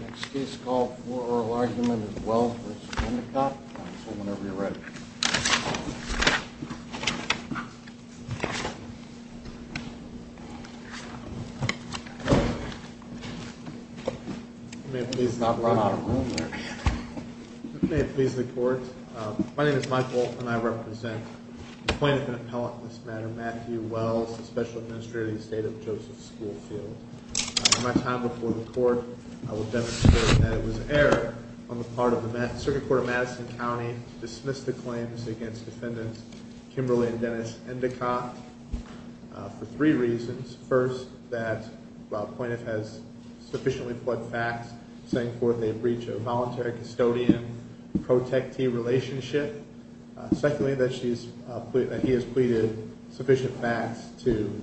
Next case call for oral argument is Wells v. Endicott. Whenever you're ready. May it please the court. My name is Michael and I represent the plaintiff in appellate in this matter, Matthew Wells, the Special Administrator in the state of Joseph Schoolfield. In my time before the court, I will demonstrate that it was error on the part of the Circuit Court of Madison County to dismiss the claims against defendants Kimberly and Dennis Endicott for three reasons. First, that the plaintiff has sufficiently pled facts saying forth a breach of voluntary custodian-protectee relationship. Secondly, that he has pleaded sufficient facts to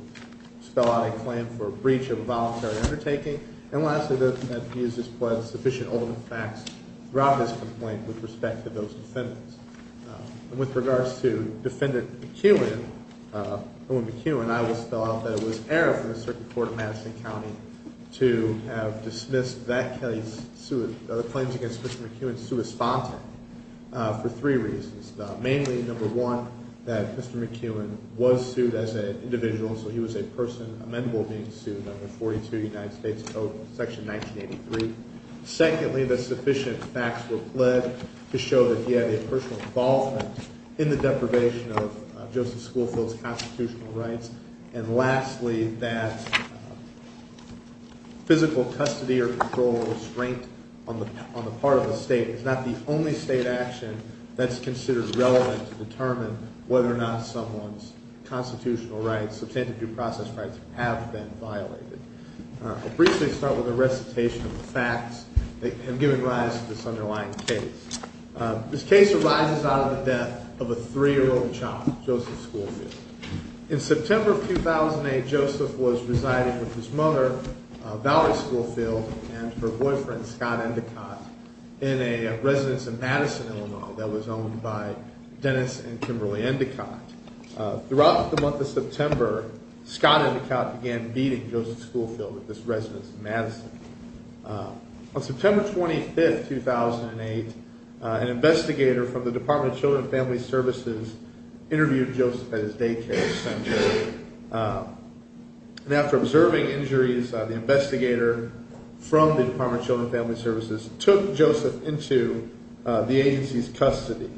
spell out a claim for a breach of a voluntary undertaking. And lastly, that he has pled sufficient ultimate facts throughout this complaint with respect to those defendants. With regards to defendant McEwen, I will spell out that it was error from the Circuit Court of Madison County to have dismissed that case, the claims against Mr. McEwen, sui sponte for three reasons. Mainly, number one, that Mr. McEwen was sued as an individual, so he was a person amendable to being sued under 42 United States Code, section 1983. Secondly, that sufficient facts were pled to show that he had a personal involvement in the deprivation of Joseph Schoolfield's constitutional rights. And lastly, that physical custody or control or restraint on the part of the state is not the only state action that's considered relevant to determine whether or not someone's constitutional rights, substantive due process rights, have been violated. I'll briefly start with a recitation of the facts that have given rise to this underlying case. This case arises out of the death of a three-year-old child, Joseph Schoolfield. In September of 2008, Joseph was residing with his mother, Valerie Schoolfield, and her boyfriend, Scott Endicott, in a residence in Madison, Illinois, that was owned by Dennis and Kimberly Endicott. Throughout the month of September, Scott Endicott began beating Joseph Schoolfield at this residence in Madison. On September 25, 2008, an investigator from the Department of Children and Family Services interviewed Joseph at his daycare center. And after observing injuries, the investigator from the Department of Children and Family Services took Joseph into the agency's custody.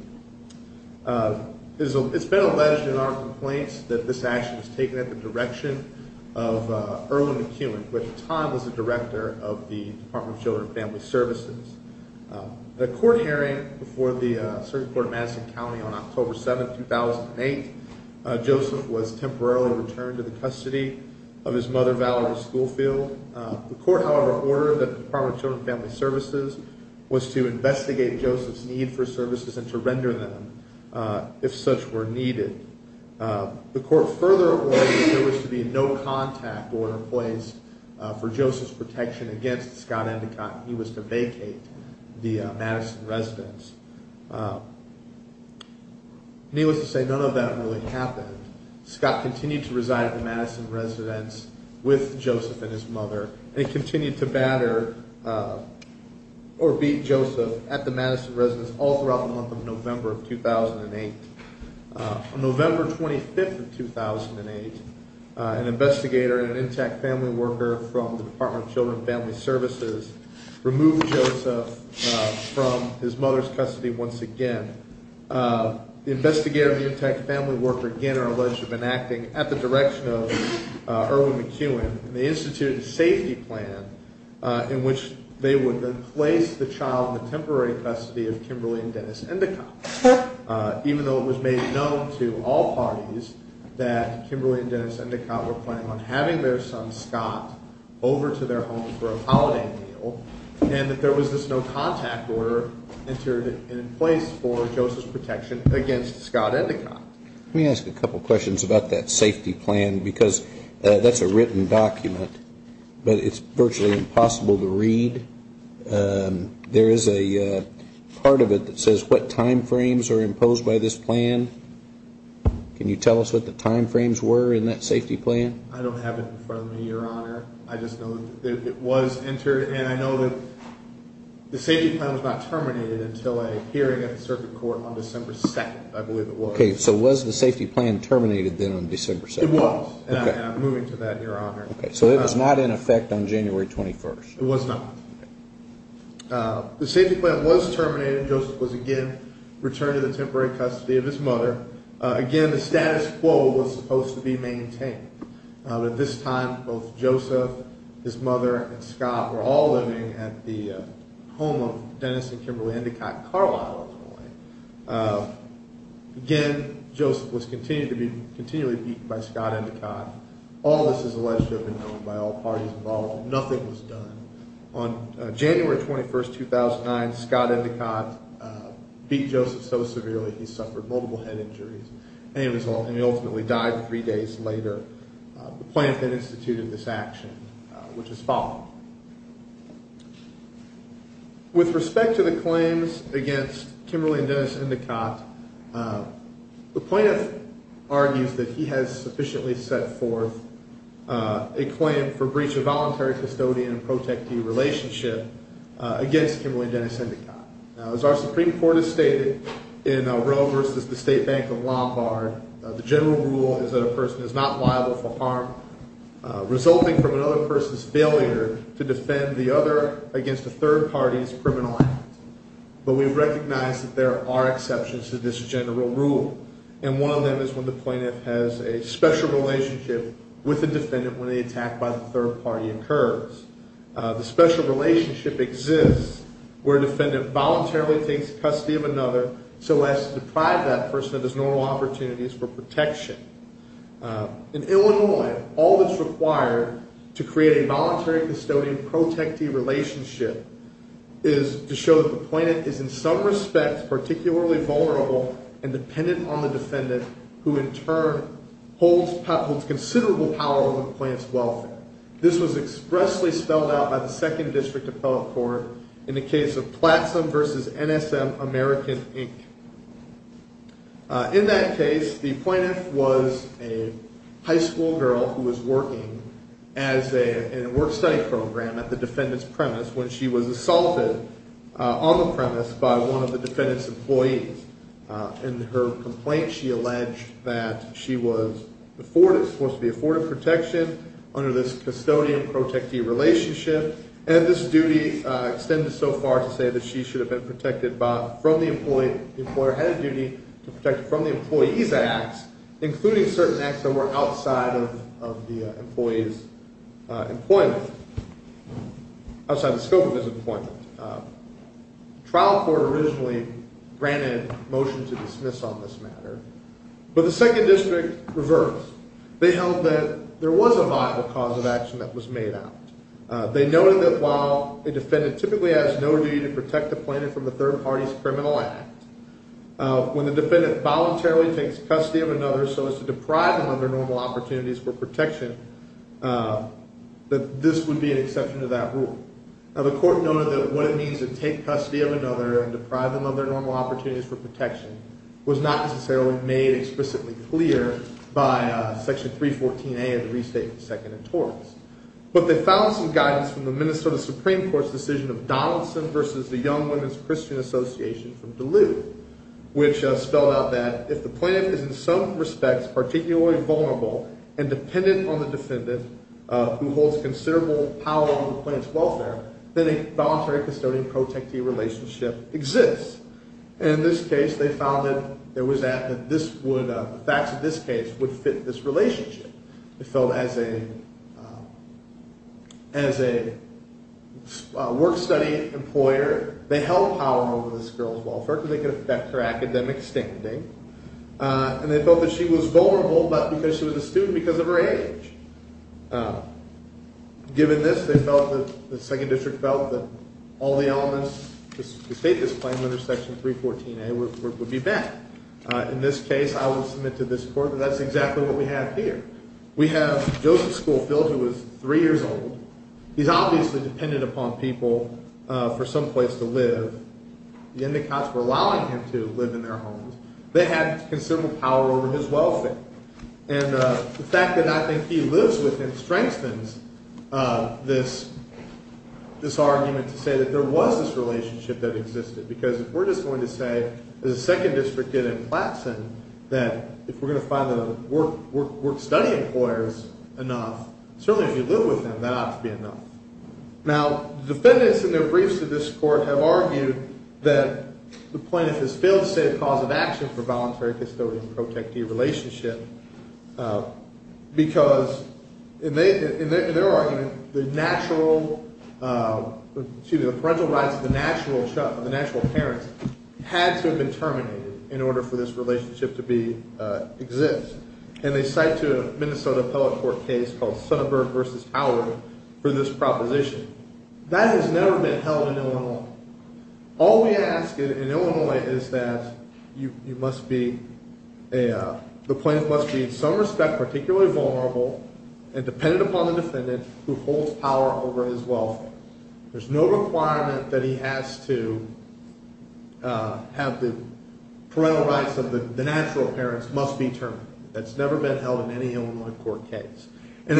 It's been alleged in our complaints that this action was taken at the direction of Erwin McEwen, who at the time was the director of the Department of Children and Family Services. At a court hearing before the Circuit Court of Madison County on October 7, 2008, Joseph was temporarily returned to the custody of his mother, Valerie Schoolfield. The court, however, ordered that the Department of Children and Family Services was to investigate Joseph's need for services and to render them if such were needed. The court further ordered that there was to be a no-contact order placed for Joseph's protection against Scott Endicott if he was to vacate the Madison residence. Needless to say, none of that really happened. Scott continued to reside at the Madison residence with Joseph and his mother. They continued to batter or beat Joseph at the Madison residence all throughout the month of November of 2008. On November 25, 2008, an investigator and an intact family worker from the Department of Children and Family Services removed Joseph from his mother's custody once again. The investigator and the intact family worker again are alleged to have been acting at the direction of Erwin McEwen and they instituted a safety plan in which they would place the child in the temporary custody of Kimberly and Dennis Endicott, even though it was made known to all parties that Kimberly and Dennis Endicott were planning on having their son Scott over to their home for a holiday meal, and that there was this no-contact order entered in place for Joseph's protection against Scott Endicott. Let me ask a couple of questions about that safety plan because that's a written document, but it's virtually impossible to read. There is a part of it that says what time frames are imposed by this plan. Can you tell us what the time frames were in that safety plan? I don't have it in front of me, Your Honor. I just know that it was entered and I know that the safety plan was not terminated until a hearing at the circuit court on December 2nd, I believe it was. Okay, so was the safety plan terminated then on December 2nd? It was, and I'm moving to that, Your Honor. Okay, so it was not in effect on January 21st? It was not. The safety plan was terminated and Joseph was again returned to the temporary custody of his mother. Again, the status quo was supposed to be maintained. At this time, both Joseph, his mother, and Scott were all living at the home of Dennis and Kimberly Endicott Carlisle. Again, Joseph was continually beaten by Scott Endicott. All of this is alleged to have been done by all parties involved. Nothing was done. On January 21st, 2009, Scott Endicott beat Joseph so severely that he suffered multiple head injuries and he ultimately died three days later. The plaintiff then instituted this action, which is followed. With respect to the claims against Kimberly and Dennis Endicott, the plaintiff argues that he has sufficiently set forth a claim for breach of voluntary custodian and protectee relationship against Kimberly and Dennis Endicott. Now, as our Supreme Court has stated in Roe versus the State Bank of Lombard, the general rule is that a person is not liable for harm resulting from another person's failure to defend the other against a third party's criminal act. But we recognize that there are exceptions to this general rule, and one of them is when the plaintiff has a special relationship with the defendant when the attack by the third party occurs. The special relationship exists where a defendant voluntarily takes custody of another so as to deprive that person of his normal opportunities for protection. In Illinois, all that's required to create a voluntary custodian-protectee relationship is to show that the plaintiff is in some respect particularly vulnerable and dependent on the defendant, who in turn holds considerable power over the plaintiff's welfare. This was expressly spelled out by the Second District Appellate Court in the case of Plattsville versus NSM American, Inc. In that case, the plaintiff was a high school girl who was working in a work-study program at the defendant's premise when she was assaulted on the premise by one of the defendant's employees. In her complaint, she alleged that she was supposed to be afforded protection under this custodian-protectee relationship, and this duty extended so far to say that she should have been protected from the employee. The employer had a duty to protect from the employee's acts, including certain acts that were outside of the employee's employment, outside the scope of his employment. The trial court originally granted a motion to dismiss on this matter, but the Second District reversed. They held that there was a viable cause of action that was made out. They noted that while a defendant typically has no duty to protect the plaintiff from the third party's criminal act, when the defendant voluntarily takes custody of another so as to deprive them of their normal opportunities for protection, that this would be an exception to that rule. The court noted that what it means to take custody of another and deprive them of their normal opportunities for protection was not necessarily made explicitly clear by Section 314A of the Restatement of Second Interest. But they found some guidance from the Minnesota Supreme Court's decision of Donaldson versus the Young Women's Christian Association from Duluth, which spelled out that if the plaintiff is in some respects particularly vulnerable and dependent on the defendant who holds considerable power over the plaintiff's welfare, then a voluntary custodian-protectee relationship exists. And in this case, they found that the facts of this case would fit this relationship. They felt as a work-study employer, they held power over this girl's welfare because they could affect her academic standing, and they felt that she was vulnerable because she was a student because of her age. Given this, they felt that the Second District felt that all the elements to state this claim under Section 314A would be met. In this case, I will submit to this court that that's exactly what we have here. We have Joseph Schoolfield, who was three years old. He's obviously dependent upon people for some place to live. The Indicots were allowing him to live in their homes. They had considerable power over his welfare. And the fact that I think he lives with him strengthens this argument to say that there was this relationship that existed, because if we're just going to say, as the Second District did in Plattson, that if we're going to find the work-study employers enough, certainly if you live with them, that ought to be enough. Now, the defendants in their briefs to this court have argued that the plaintiff has failed to state a cause of action for voluntary custodian-protectee relationship because, in their argument, the parental rights of the natural parents had to have been terminated in order for this relationship to exist. And they cite to a Minnesota Appellate Court case called Sonnenberg v. Howard for this proposition. That has never been held in Illinois. All we ask in Illinois is that the plaintiff must be, in some respect, particularly vulnerable and dependent upon the defendant who holds power over his welfare. There's no requirement that he has to have the parental rights of the natural parents must be terminated. That's never been held in any Illinois court case. And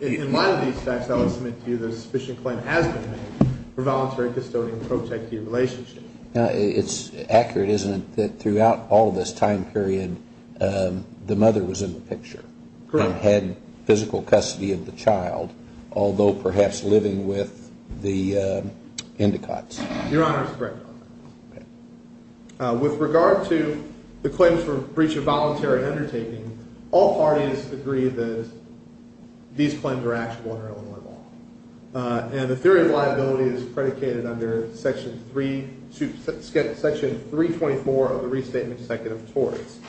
in light of these facts, I would submit to you that a sufficient claim has been made for voluntary custodian-protectee relationship. It's accurate, isn't it, that throughout all this time period, the mother was in the picture and had physical custody of the child, although perhaps living with the endocots? Your Honor, it's correct. With regard to the claims for breach of voluntary undertaking, all parties agree that these claims are actionable under Illinois law. And the theory of liability is predicated under Section 324 of the Restatement Defective Torts.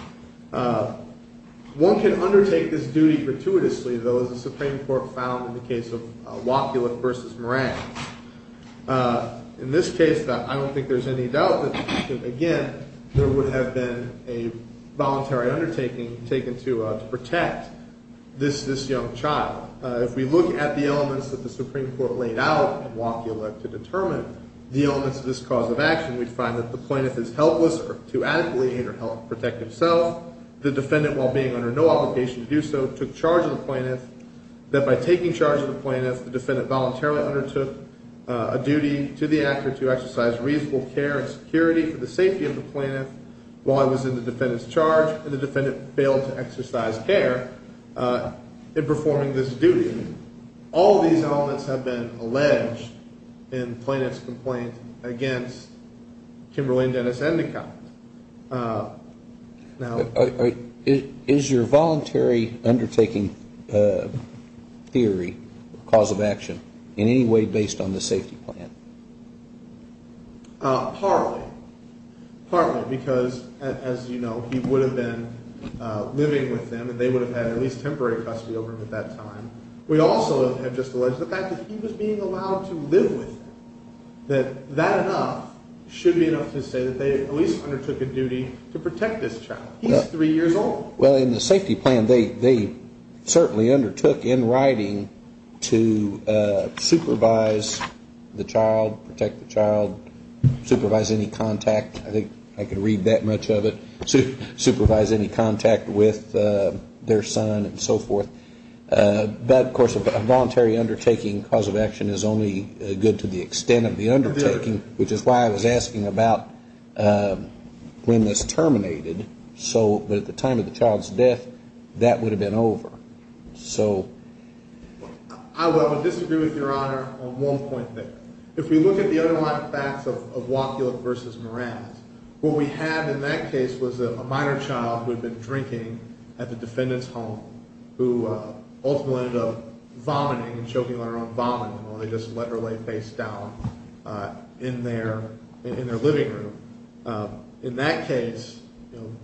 One can undertake this duty gratuitously, though, as the Supreme Court found in the case of Wopulich v. Moran. In this case, I don't think there's any doubt that, again, there would have been a voluntary undertaking taken to protect this young child. If we look at the elements that the Supreme Court laid out in Wopulich to determine the elements of this cause of action, we'd find that the plaintiff is helpless to adequately protect himself. The defendant, while being under no obligation to do so, took charge of the plaintiff, that by taking charge of the plaintiff, the defendant voluntarily undertook a duty to the actor to exercise reasonable care and security for the safety of the plaintiff while he was in the defendant's charge, and the defendant failed to exercise care in performing this duty. All of these elements have been alleged in the plaintiff's complaint against Kimberly and Dennis Endicott. Now... Is your voluntary undertaking theory, cause of action, in any way based on the safety plan? Partly. Partly. Because, as you know, he would have been living with them, and they would have had at least temporary custody over him at that time. We also have just alleged the fact that he was being allowed to live with them, that that enough should be enough to say that they at least undertook a duty to protect this child. He's three years old. Well, in the safety plan, they certainly undertook, in writing, to supervise the child, protect the child, supervise any contact. I think I can read that much of it. Supervise any contact with their son and so forth. But, of course, a voluntary undertaking, cause of action, is only good to the extent of the undertaking, which is why I was asking about when it's terminated. So at the time of the child's death, that would have been over. So... I would disagree with Your Honor on one point there. If we look at the underlying facts of Wapulik v. Mraz, what we had in that case was a minor child who had been drinking at the defendant's home who ultimately ended up vomiting and choking on her own vomit while they just let her lay face down in their living room. In that case,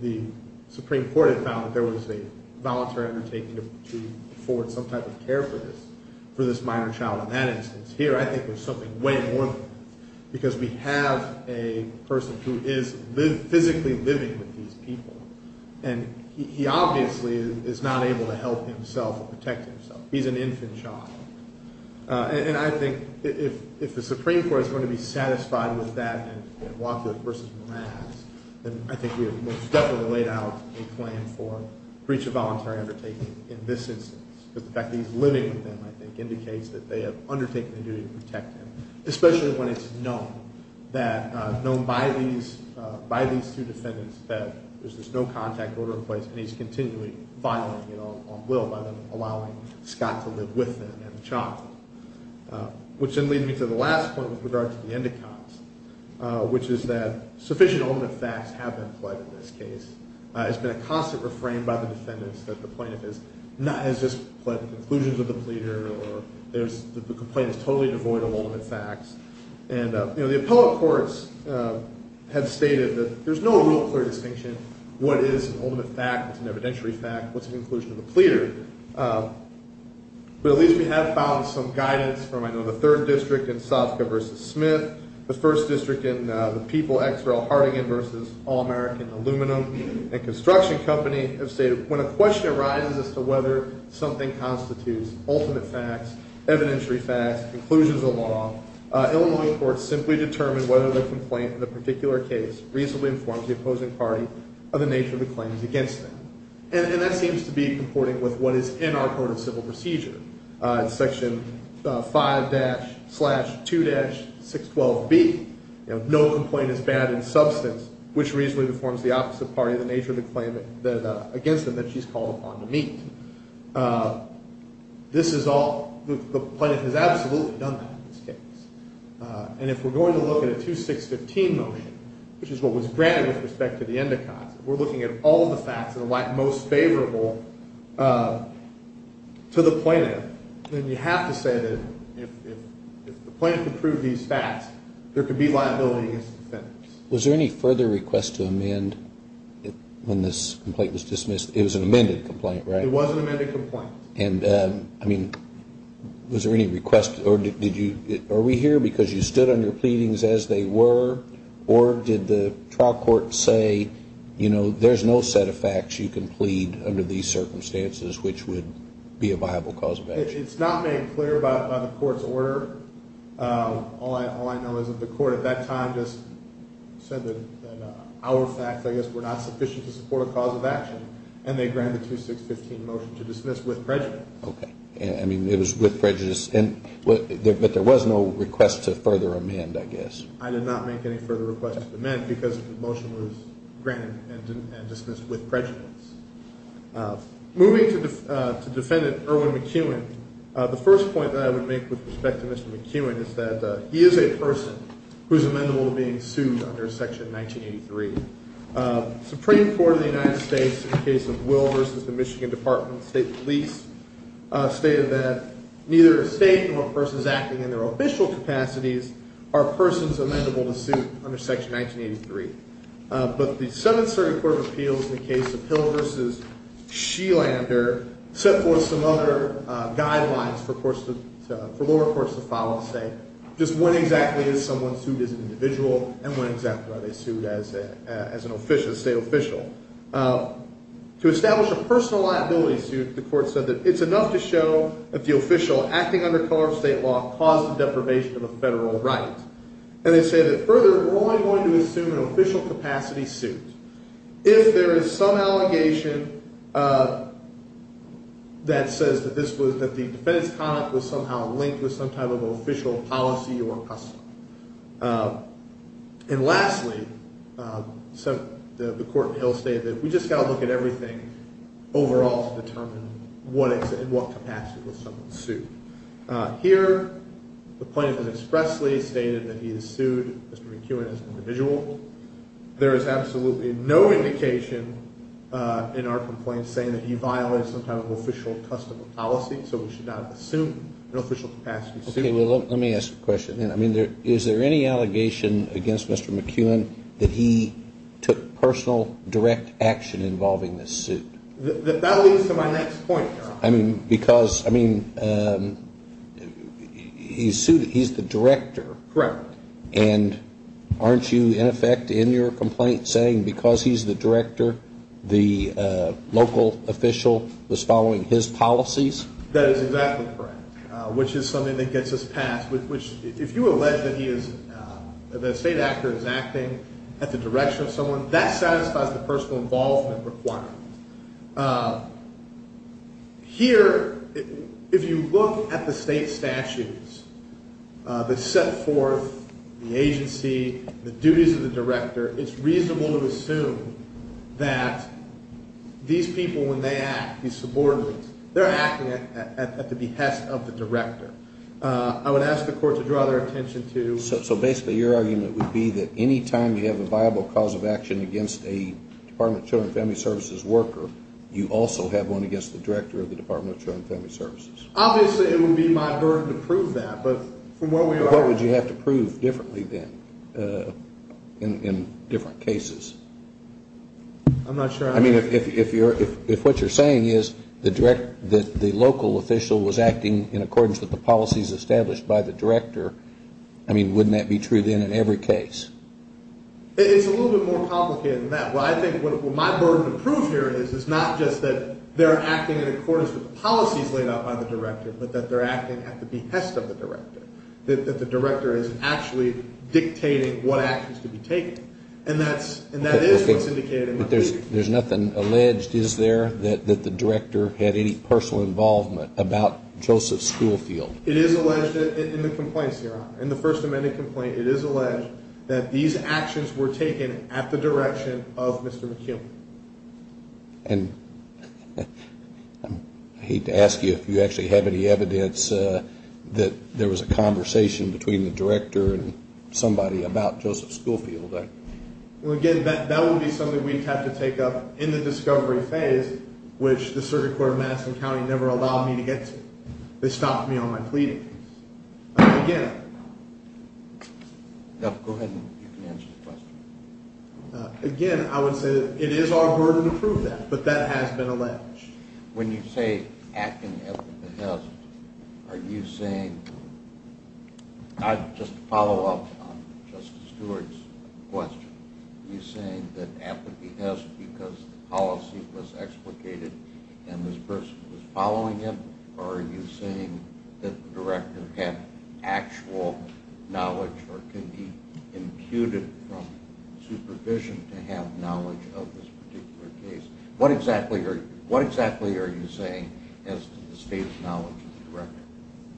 the Supreme Court had found that there was a voluntary undertaking to afford some type of care for this minor child in that instance. Here, I think there's something way more than that, because we have a person who is physically living with these people, and he obviously is not able to help himself or protect himself. He's an infant child. And I think if the Supreme Court is going to be satisfied with that in Wapulik v. Mraz, then I think we have most definitely laid out a claim for breach of voluntary undertaking in this instance, because the fact that he's living with them, I think, indicates that they have undertaken the duty to protect him, especially when it's known by these two defendants that there's this no-contact order in place, and he's continually violating it on will by them allowing Scott to live with them and the child. Which then leads me to the last point with regard to the end accounts, which is that sufficient ultimate facts have been pledged in this case. It's been a constant refrain by the defendants that the plaintiff has just pled the conclusions of the pleader or that the complaint is totally devoid of ultimate facts. And the appellate courts have stated that there's no real clear distinction what is an ultimate fact, what's an evidentiary fact, what's the conclusion of the pleader. But at least we have found some guidance from, I know, the third district in Sofka v. Smith, the first district in the People X. Rel. Hardigan v. All-American Aluminum and Construction Company, have stated when a question arises as to whether something constitutes ultimate facts, evidentiary facts, conclusions of the law, Illinois courts simply determine whether the complaint in the particular case reasonably informs the opposing party of the nature of the claims against them. And that seems to be comporting with what is in our Code of Civil Procedure, section 5-2-612B, no complaint is bad in substance, which reasonably informs the opposite party of the nature of the claim against them that she's called upon to meet. This is all, the plaintiff has absolutely done that in this case. And if we're going to look at a 2-6-15 motion, which is what was granted with respect to the Endicotts, if we're looking at all of the facts that are most favorable to the plaintiff, then you have to say that if the plaintiff approved these facts, there could be liability against the defendants. Was there any further request to amend when this complaint was dismissed? It was an amended complaint, right? It was an amended complaint. And, I mean, was there any request, or did you, are we here because you stood on your pleadings as they were, or did the trial court say, you know, there's no set of facts you can plead under these circumstances, which would be a viable cause of action? It's not made clear by the court's order. All I know is that the court at that time just said that our facts, I guess, were not sufficient to support a cause of action, and they granted the 2-6-15 motion to dismiss with prejudice. Okay. I mean, it was with prejudice, but there was no request to further amend, I guess. I did not make any further request to amend because the motion was granted and dismissed with prejudice. Moving to Defendant Irwin McEwen, the first point that I would make with respect to Mr. McEwen is that he is a person who is amendable to being sued under Section 1983. The Supreme Court of the United States, in the case of Will v. The Michigan Department of State Police, stated that neither a state nor a person is acting in their official capacities are persons amendable to suit under Section 1983. But the Seventh Circuit Court of Appeals, in the case of Hill v. Shelander, set forth some other guidelines for lower courts to follow to say just when exactly is someone sued as an individual and when exactly are they sued as a state official. To establish a personal liability suit, the court said that it's enough to show that the official acting under color of state law caused the deprivation of a federal right. And they say that further, we're only going to assume an official capacity suit if there is some allegation that says that the defendant's conduct was somehow linked with some type of official policy or custom. And lastly, the court in Hill stated that we just got to look at everything overall to determine in what capacity will someone sue. Here, the plaintiff has expressly stated that he has sued Mr. McKeown as an individual. There is absolutely no indication in our complaint saying that he violated some type of official custom or policy, so we should not assume an official capacity suit. Okay, well, let me ask a question then. I mean, is there any allegation against Mr. McKeown that he took personal direct action involving this suit? That leads to my next point, Your Honor. I mean, because, I mean, he's the director. Correct. And aren't you, in effect, in your complaint saying because he's the director, the local official was following his policies? That is exactly correct, which is something that gets us past, which if you allege that he is, that a state actor is acting at the direction of someone, that satisfies the personal involvement requirement. Here, if you look at the state statutes that set forth the agency, the duties of the director, it's reasonable to assume that these people, when they act, these subordinates, they're acting at the behest of the director. I would ask the court to draw their attention to. So basically your argument would be that any time you have a viable cause of action against a Department of Children and Family Services worker, you also have one against the director of the Department of Children and Family Services? Obviously it would be my burden to prove that, but from where we are. What would you have to prove differently then in different cases? I'm not sure. I mean, if what you're saying is the local official was acting in accordance with the policies established by the director, I mean, wouldn't that be true then in every case? It's a little bit more complicated than that. Well, I think what my burden to prove here is, is not just that they're acting in accordance with the policies laid out by the director, but that they're acting at the behest of the director, that the director isn't actually dictating what actions to be taken. And that is what's indicated in the statute. But there's nothing alleged, is there, that the director had any personal involvement about Joseph Schoolfield? It is alleged in the complaints here. In the First Amendment complaint, it is alleged that these actions were taken at the direction of Mr. McKim. And I hate to ask you if you actually have any evidence that there was a conversation between the director and somebody about Joseph Schoolfield. Well, again, that would be something we'd have to take up in the discovery phase, which the Circuit Court of Madison County never allowed me to get to. They stopped me on my pleading. Again, I would say it is our burden to prove that, but that has been alleged. When you say acting at the behest, are you saying, just to follow up on Justice Stewart's question, are you saying that at the behest because the policy was explicated and this person was following it, or are you saying that the director had actual knowledge or could be imputed from supervision to have knowledge of this particular case? What exactly are you saying as to the state's knowledge of the director?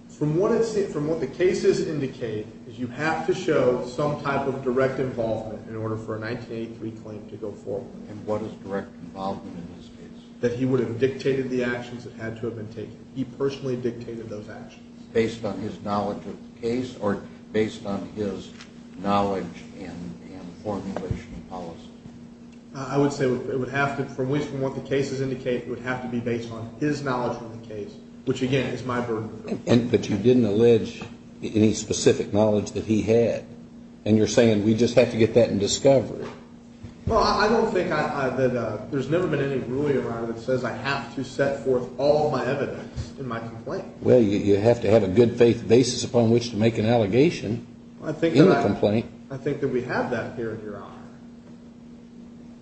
From what the cases indicate, you have to show some type of direct involvement in order for a 1983 claim to go forward. And what is direct involvement in this case? That he would have dictated the actions that had to have been taken. He personally dictated those actions. Based on his knowledge of the case or based on his knowledge and formulation of policy? I would say it would have to, at least from what the cases indicate, it would have to be based on his knowledge of the case, which, again, is my burden to prove. But you didn't allege any specific knowledge that he had, and you're saying we just have to get that in discovery. Well, I don't think that there's never been any ruling around it that says I have to set forth all of my evidence in my complaint. Well, you have to have a good faith basis upon which to make an allegation in the complaint. I think that we have that here, Your Honor.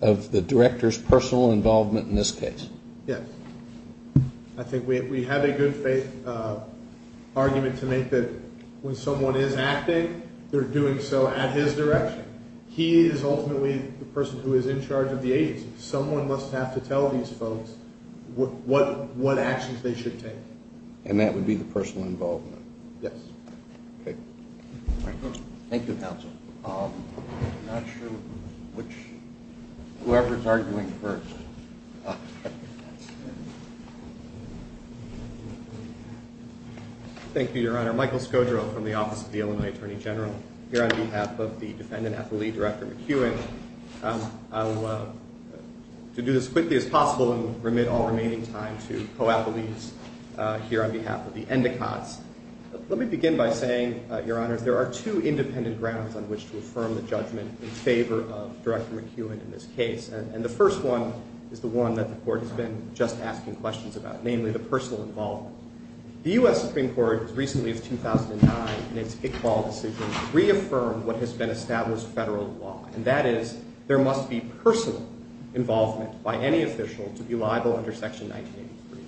Of the director's personal involvement in this case? Yes. I think we have a good faith argument to make that when someone is acting, they're doing so at his direction. He is ultimately the person who is in charge of the agency. Someone must have to tell these folks what actions they should take. And that would be the personal involvement? Yes. Okay. All right. Thank you, counsel. I'm not sure which, whoever's arguing first. Thank you, Your Honor. Michael Scodro from the Office of the Illinois Attorney General. I'm here on behalf of the defendant affilee, Director McEwen. I will do this as quickly as possible and remit all remaining time to co-affilees here on behalf of the endicots. Let me begin by saying, Your Honor, there are two independent grounds on which to affirm the judgment in favor of Director McEwen in this case. And the first one is the one that the court has been just asking questions about, namely the personal involvement. The U.S. Supreme Court, as recently as 2009 in its Iqbal decision, reaffirmed what has been established federal law, and that is there must be personal involvement by any official to be liable under Section 1983.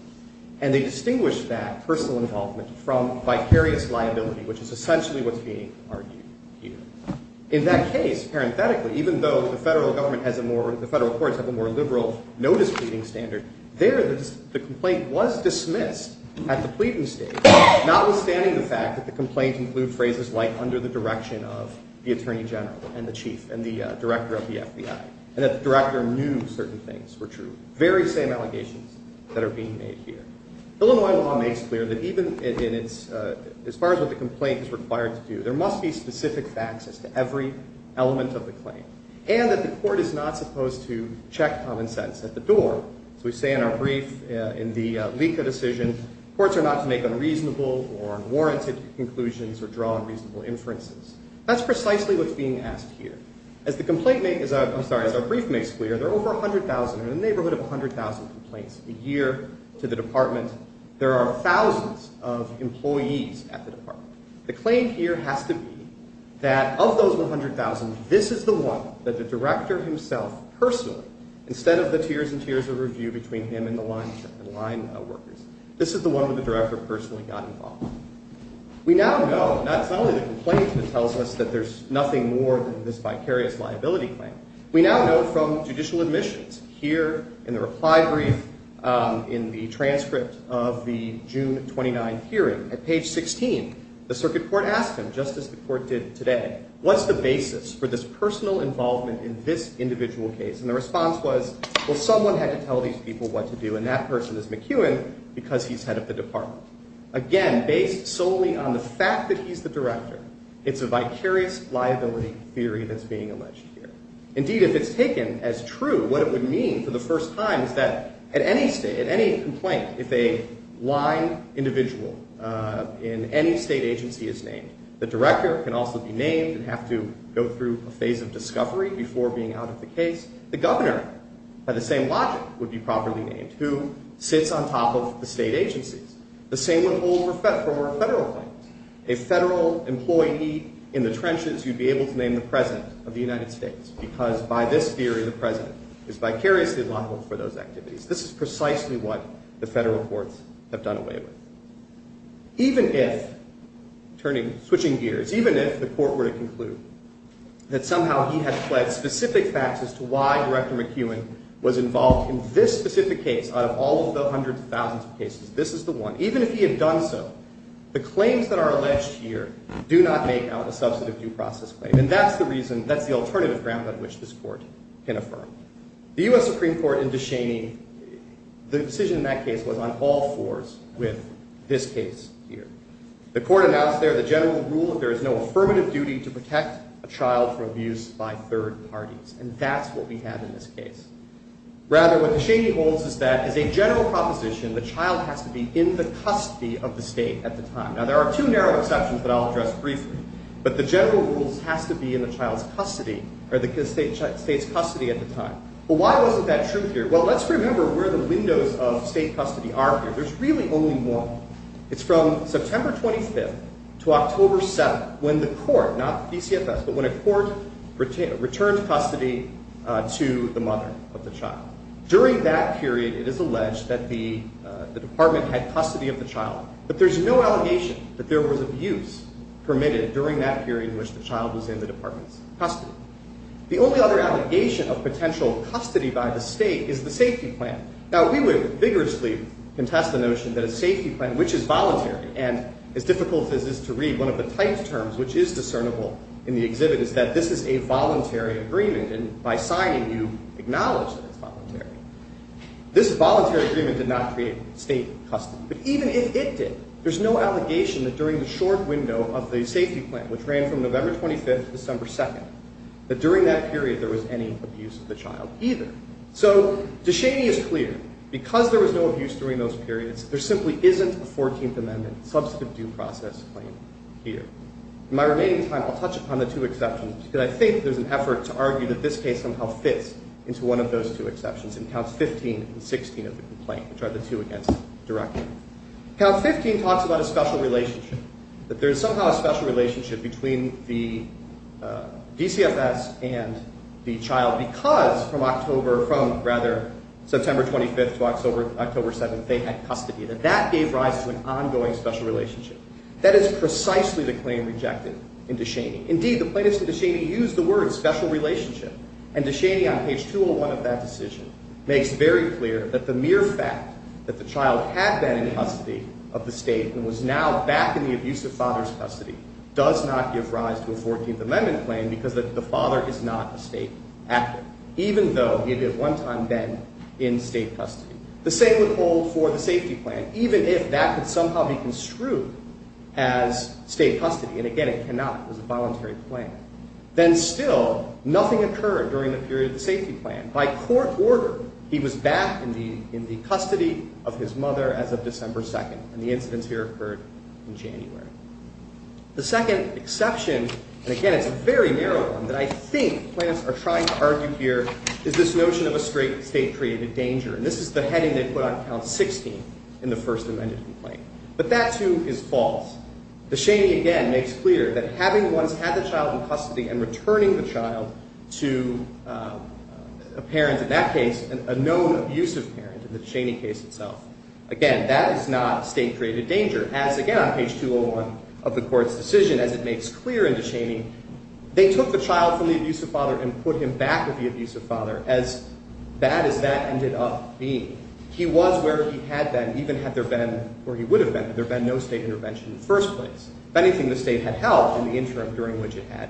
And they distinguished that personal involvement from vicarious liability, which is essentially what's being argued here. In that case, parenthetically, even though the federal government has a more, the federal courts have a more liberal notice pleading standard, there the complaint was dismissed at the pleading stage, notwithstanding the fact that the complaint includes phrases like under the direction of the Attorney General and the Chief and the Director of the FBI, and that the Director knew certain things were true, very same allegations that are being made here. Illinois law makes clear that even in its, as far as what the complaint is required to do, there must be specific facts as to every element of the claim, and that the court is not supposed to check common sense at the door. As we say in our brief, in the LICA decision, courts are not to make unreasonable or unwarranted conclusions or draw unreasonable inferences. That's precisely what's being asked here. As the complaint makes, I'm sorry, as our brief makes clear, there are over 100,000, in a neighborhood of 100,000 complaints a year to the Department. There are thousands of employees at the Department. The claim here has to be that of those 100,000, this is the one that the Director himself personally, instead of the tears and tears of review between him and the line workers, this is the one where the Director personally got involved. We now know, not only the complaint that tells us that there's nothing more than this vicarious liability claim, we now know from judicial admissions, here in the reply brief, in the transcript of the June 29 hearing, at page 16, the circuit court asked him, just as the court did today, what's the basis for this personal involvement in this individual case? And the response was, well, someone had to tell these people what to do, and that person is McEwen because he's head of the Department. Again, based solely on the fact that he's the Director, it's a vicarious liability theory that's being alleged here. Indeed, if it's taken as true, what it would mean for the first time is that at any state, at any complaint, if a line individual in any state agency is named, the Director can also be named and have to go through a phase of discovery before being out of the case. The Governor, by the same logic, would be properly named, who sits on top of the state agencies. The same would hold for federal claims. A federal employee in the trenches, you'd be able to name the President of the United States because by this theory, the President is vicariously liable for those activities. This is precisely what the federal courts have done away with. Even if, switching gears, even if the court were to conclude that somehow he has pled specific facts as to why Director McEwen was involved in this specific case out of all of the hundreds of thousands of cases, this is the one, even if he had done so, the claims that are alleged here do not make out a substantive due process claim. And that's the reason, that's the alternative ground on which this court can affirm. The U.S. Supreme Court in DeShaney, the decision in that case was on all fours with this case here. The court announced there the general rule that there is no affirmative duty to protect a child from abuse by third parties. And that's what we have in this case. Rather, what DeShaney holds is that as a general proposition, the child has to be in the custody of the state at the time. Now, there are two narrow exceptions that I'll address briefly. But the general rule has to be in the child's custody or the state's custody at the time. Well, why wasn't that true here? Well, let's remember where the windows of state custody are here. There's really only one. It's from September 25th to October 7th when the court, not PCFS, but when a court returned custody to the mother of the child. During that period, it is alleged that the department had custody of the child. But there's no allegation that there was abuse permitted during that period in which the child was in the department's custody. The only other allegation of potential custody by the state is the safety plan. Now, we would vigorously contest the notion that a safety plan, which is voluntary, and as difficult as this is to read, one of the tight terms which is discernible in the exhibit is that this is a voluntary agreement. And by signing, you acknowledge that it's voluntary. This voluntary agreement did not create state custody. But even if it did, there's no allegation that during the short window of the safety plan, which ran from November 25th to December 2nd, that during that period there was any abuse of the child either. So DeShaney is clear. Because there was no abuse during those periods, there simply isn't a 14th Amendment substantive due process claim here. In my remaining time, I'll touch upon the two exceptions, because I think there's an effort to argue that this case somehow fits into one of those two exceptions in Counts 15 and 16 of the complaint, which are the two against direction. Count 15 talks about a special relationship, that there is somehow a special relationship between the DCFS and the child because from October, from rather September 25th to October 7th, they had custody, that that gave rise to an ongoing special relationship. That is precisely the claim rejected in DeShaney. Indeed, the plaintiffs to DeShaney used the word special relationship. And DeShaney on page 201 of that decision makes very clear that the mere fact that the child had been in custody of the state and was now back in the abusive father's custody does not give rise to a 14th Amendment claim because the father is not a state actor, even though he had at one time been in state custody. The same would hold for the safety plan, even if that could somehow be construed as state custody. And again, it cannot. It was a voluntary claim. Then still, nothing occurred during the period of the safety plan. By court order, he was back in the custody of his mother as of December 2nd, and the incidents here occurred in January. The second exception, and again it's a very narrow one that I think plaintiffs are trying to argue here, is this notion of a state-created danger. And this is the heading they put on Count 16 in the First Amendment complaint. But that too is false. DeShaney again makes clear that having once had the child in custody and returning the child to a parent in that case, a known abusive parent in the DeShaney case itself, again, that is not state-created danger. As again on page 201 of the court's decision, as it makes clear in DeShaney, they took the child from the abusive father and put him back with the abusive father, as bad as that ended up being. He was where he had been, even had there been, or he would have been, had there been no state intervention in the first place. If anything, the state had helped in the interim during which it had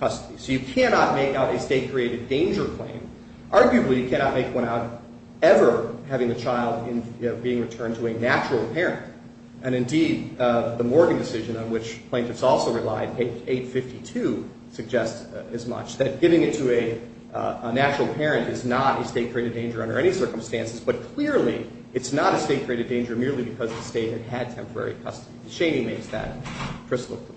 custody. So you cannot make out a state-created danger claim. Arguably, you cannot make one out ever having the child being returned to a natural parent. And indeed, the Morgan decision on which plaintiffs also relied, page 852, suggests as much, that giving it to a natural parent is not a state-created danger under any circumstances, but clearly it's not a state-created danger merely because the state had had temporary custody. DeShaney makes that crystal clear.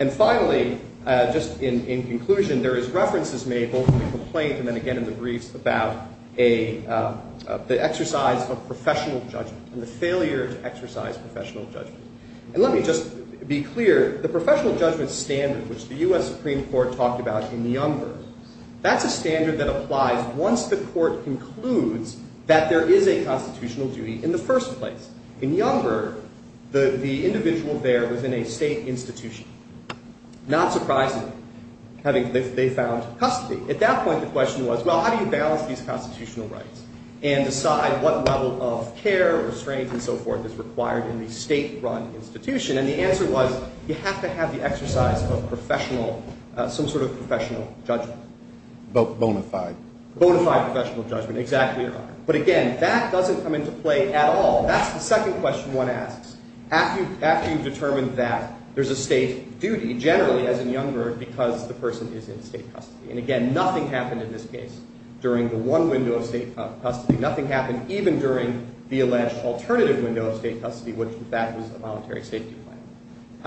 And finally, just in conclusion, there is references made both in the complaint and then again in the briefs about the exercise of professional judgment and the failure to exercise professional judgment. And let me just be clear. The professional judgment standard, which the U.S. Supreme Court talked about in Niumberg, that's a standard that applies once the court concludes that there is a constitutional duty in the first place. In Niumberg, the individual there was in a state institution. Not surprisingly, they found custody. At that point, the question was, well, how do you balance these constitutional rights and decide what level of care, restraint, and so forth is required in the state-run institution? And the answer was you have to have the exercise of professional, some sort of professional judgment. Bonafide. Bonafide professional judgment, exactly right. But again, that doesn't come into play at all. That's the second question one asks. After you determine that there's a state duty, generally, as in Niumberg, because the person is in state custody. And again, nothing happened in this case during the one window of state custody. Nothing happened even during the alleged alternative window of state custody, which, in fact, was a voluntary safety plan.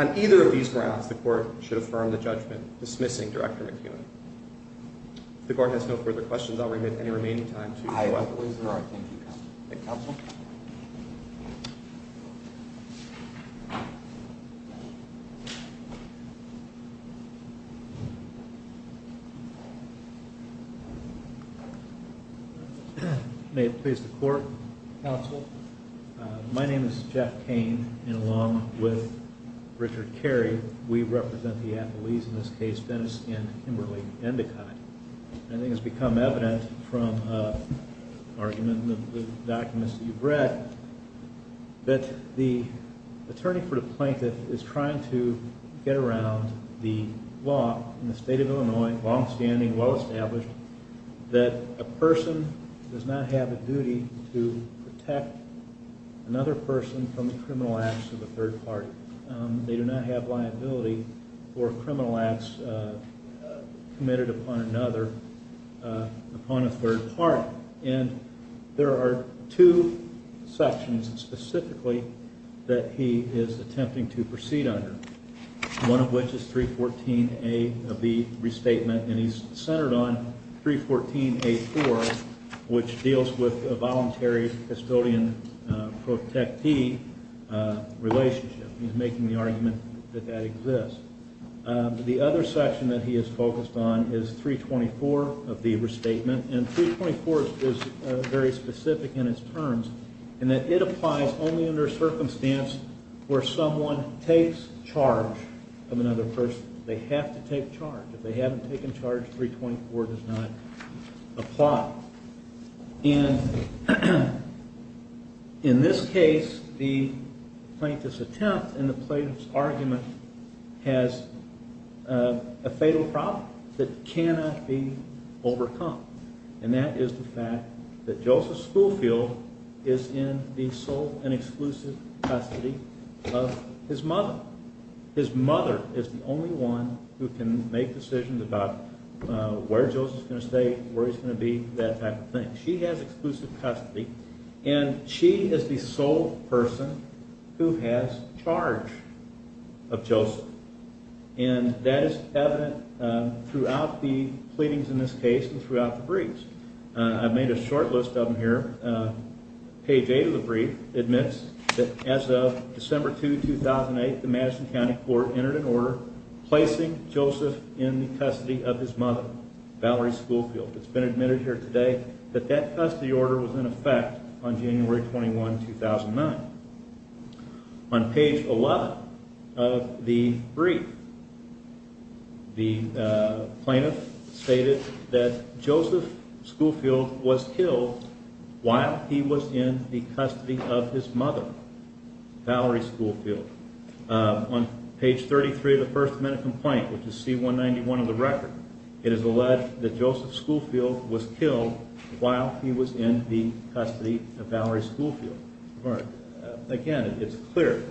On either of these grounds, the court should affirm the judgment dismissing Director McKeown. If the court has no further questions, I'll remit any remaining time to the weapon. Thank you, counsel. May it please the court. Counsel. My name is Jeff Kane, and along with Richard Carey, we represent the athletes in this case, Dennis and Kimberly Endicott. I think it's become evident from argument in the documents that you've read that the attorney for the plaintiff is trying to get around the law in the state of Illinois, longstanding, well-established, that a person does not have a duty to protect another person from the criminal acts of a third party. They do not have liability for criminal acts committed upon another, upon a third party. And there are two sections specifically that he is attempting to proceed under, one of which is 314A of the restatement, and he's centered on 314A4, which deals with a voluntary custodian-protectee relationship. He's making the argument that that exists. The other section that he is focused on is 324 of the restatement, and 324 is very specific in its terms, in that it applies only under a circumstance where someone takes charge of another person. They have to take charge. If they haven't taken charge, 324 does not apply. And in this case, the plaintiff's attempt and the plaintiff's argument has a fatal problem that cannot be overcome, and that is the fact that Joseph Schoolfield is in the sole and exclusive custody of his mother. His mother is the only one who can make decisions about where Joseph is going to stay, where he's going to be, that type of thing. She has exclusive custody, and she is the sole person who has charge of Joseph, and that is evident throughout the pleadings in this case and throughout the briefs. I've made a short list of them here. Page 8 of the brief admits that as of December 2, 2008, the Madison County Court entered an order placing Joseph in the custody of his mother, Valerie Schoolfield. It's been admitted here today that that custody order was in effect on January 21, 2009. On page 11 of the brief, the plaintiff stated that Joseph Schoolfield was killed while he was in the custody of his mother, Valerie Schoolfield. On page 33 of the first amendment complaint, which is C191 of the record, it is alleged that Joseph Schoolfield was killed while he was in the custody of Valerie Schoolfield. Again, it's clear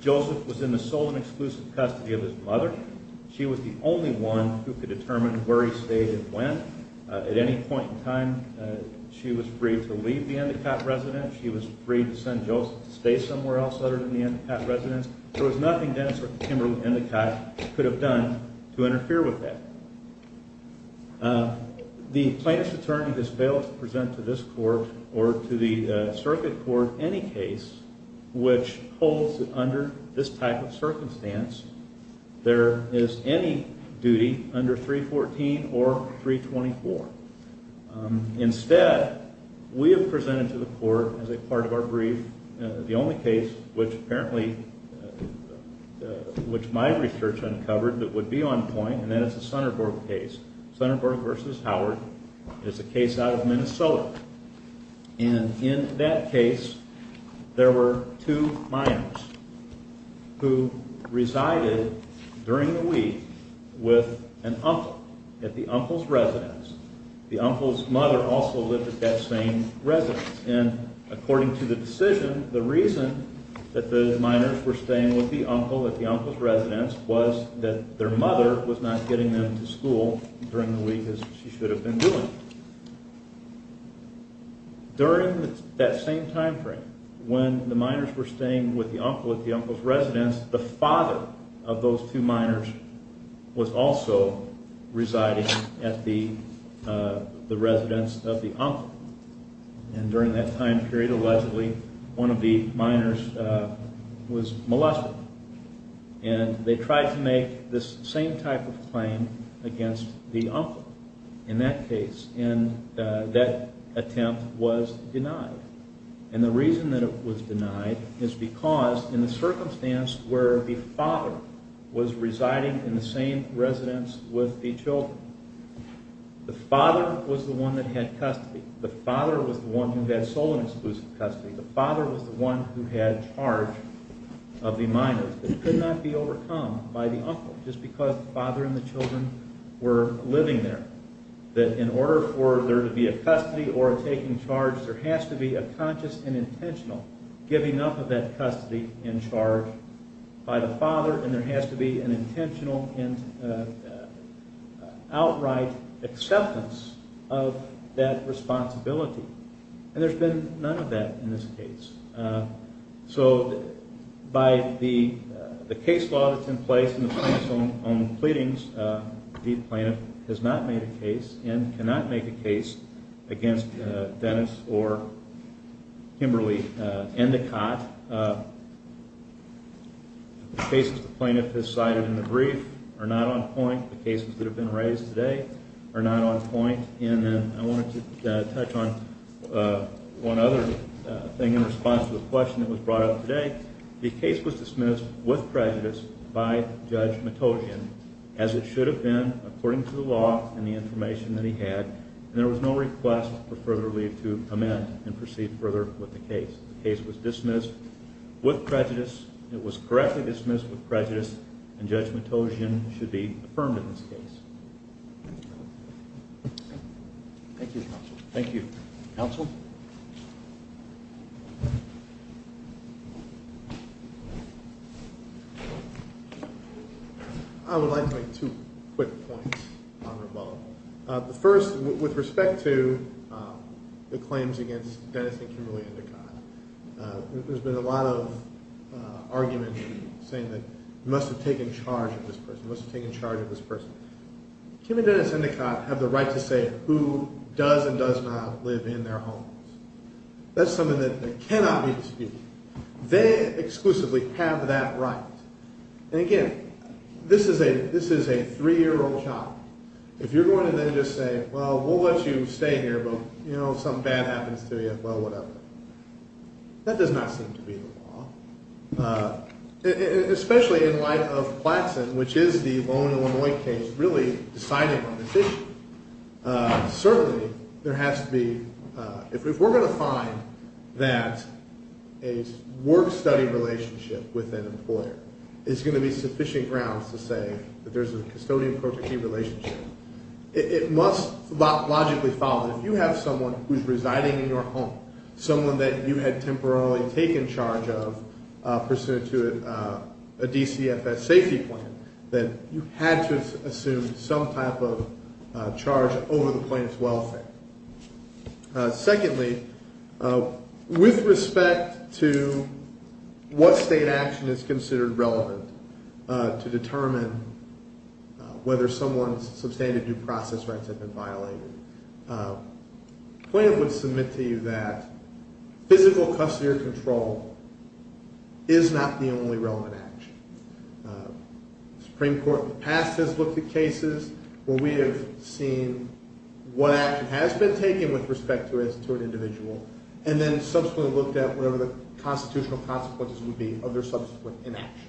Joseph was in the sole and exclusive custody of his mother. She was the only one who could determine where he stayed and when. At any point in time, she was free to leave the Endicott residence. She was free to send Joseph to stay somewhere else other than the Endicott residence. There was nothing Dennis or Kimberly Endicott could have done to interfere with that. The plaintiff's attorney has failed to present to this court or to the circuit court any case which holds that under this type of circumstance, there is any duty under 314 or 324. Instead, we have presented to the court, as a part of our brief, the only case which apparently, which my research uncovered that would be on point, and that is the Sunderburg case. Sunderburg v. Howard is a case out of Minnesota. In that case, there were two minors who resided during the week with an uncle at the uncle's residence. The uncle's mother also lived at that same residence. According to the decision, the reason that those minors were staying with the uncle at the uncle's residence was that their mother was not getting them to school during the week as she should have been doing. During that same time frame, when the minors were staying with the uncle at the uncle's residence, the father of those two minors was also residing at the residence of the uncle. During that time period, allegedly, one of the minors was molested. They tried to make this same type of claim against the uncle in that case. That attempt was denied. The reason that it was denied is because, in the circumstance where the father was residing in the same residence with the children, the father was the one that had custody. The father was the one who had sole and exclusive custody. The father was the one who had charge of the minors. It could not be overcome by the uncle, just because the father and the children were living there. In order for there to be a custody or a taking charge, there has to be a conscious and intentional giving up of that custody and charge by the father. There has to be an intentional and outright acceptance of that responsibility. There's been none of that in this case. By the case law that's in place in the plaintiff's own pleadings, the plaintiff has not made a case and cannot make a case against Dennis or Kimberly Endicott. The cases the plaintiff has cited in the brief are not on point. The cases that have been raised today are not on point. I wanted to touch on one other thing in response to the question that was brought up today. The case was dismissed with prejudice by Judge Matogian, as it should have been, according to the law and the information that he had. There was no request for further relief to amend and proceed further with the case. The case was dismissed with prejudice. It was correctly dismissed with prejudice, and Judge Matogian should be affirmed in this case. Thank you, counsel. Thank you. Counsel? I would like to make two quick points on Ramon. The first, with respect to the claims against Dennis and Kimberly Endicott. There's been a lot of argument saying that you must have taken charge of this person, you must have taken charge of this person. Kim and Dennis Endicott have the right to say who does and does not live in their homes. That's something that cannot be disputed. They exclusively have that right. And again, this is a three-year-old child. If you're going to then just say, well, we'll let you stay here, but, you know, if something bad happens to you, well, whatever. That does not seem to be the law. Especially in light of Platson, which is the Lone, Illinois case, really deciding on this issue. Certainly, there has to be, if we're going to find that a work-study relationship with an employer is going to be sufficient grounds to say that there's a custodian-protective relationship, it must logically follow that if you have someone who's residing in your home, someone that you had temporarily taken charge of, a DCFS safety plan, that you had to assume some type of charge over the plaintiff's welfare. Secondly, with respect to what state action is considered relevant to determine whether someone's substantive due process rights have been violated, the plaintiff would submit to you that physical custody or control is not the only relevant action. The Supreme Court in the past has looked at cases where we have seen what action has been taken with respect to an individual, and then subsequently looked at whatever the constitutional consequences would be of their subsequent inaction.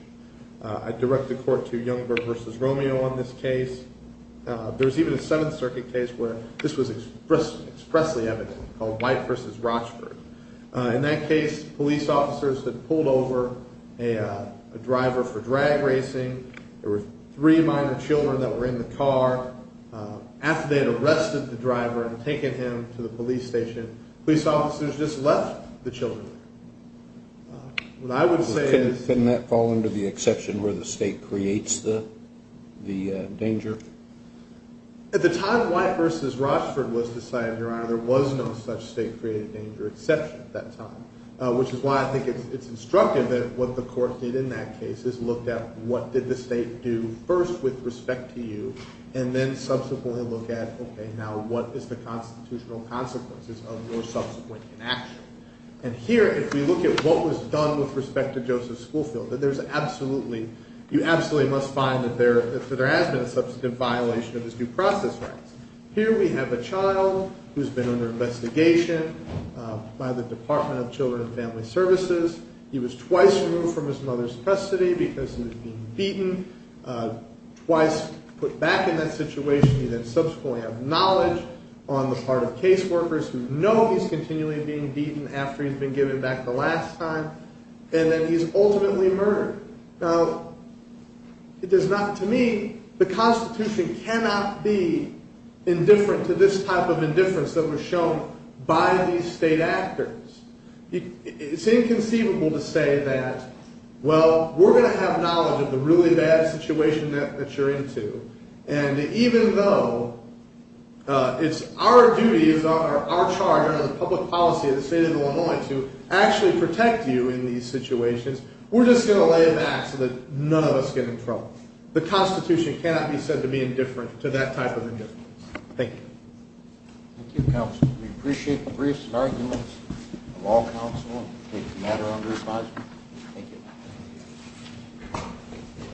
I direct the court to Youngberg v. Romeo on this case. There's even a Seventh Circuit case where this was expressly evident, called White v. Rochford. In that case, police officers had pulled over a driver for drag racing. There were three minor children that were in the car. After they had arrested the driver and taken him to the police station, police officers just left the children there. Couldn't that fall under the exception where the state creates the danger? At the time White v. Rochford was decided, Your Honor, there was no such state-created danger exception at that time, which is why I think it's instructive that what the court did in that case is looked at what did the state do first with respect to you, and then subsequently look at, okay, now what is the constitutional consequences of your subsequent inaction? And here, if we look at what was done with respect to Joseph Schoelfeld, you absolutely must find that there has been a substantive violation of his due process rights. Here we have a child who's been under investigation by the Department of Children and Family Services. He was twice removed from his mother's custody because he was being beaten, twice put back in that situation. He then subsequently has knowledge on the part of caseworkers who know he's continually being beaten after he's been given back the last time, and that he's ultimately murdered. Now, it does not, to me, the Constitution cannot be indifferent to this type of indifference that was shown by these state actors. It's inconceivable to say that, well, we're going to have knowledge of the really bad situation that you're into, and even though it's our duty, it's our charge under the public policy of the state of Illinois to actually protect you in these situations, we're just going to lay it back so that none of us get in trouble. The Constitution cannot be said to be indifferent to that type of indifference. Thank you. Thank you, Counsel. We appreciate the briefs and arguments of all counsel on this matter under advisement. Thank you.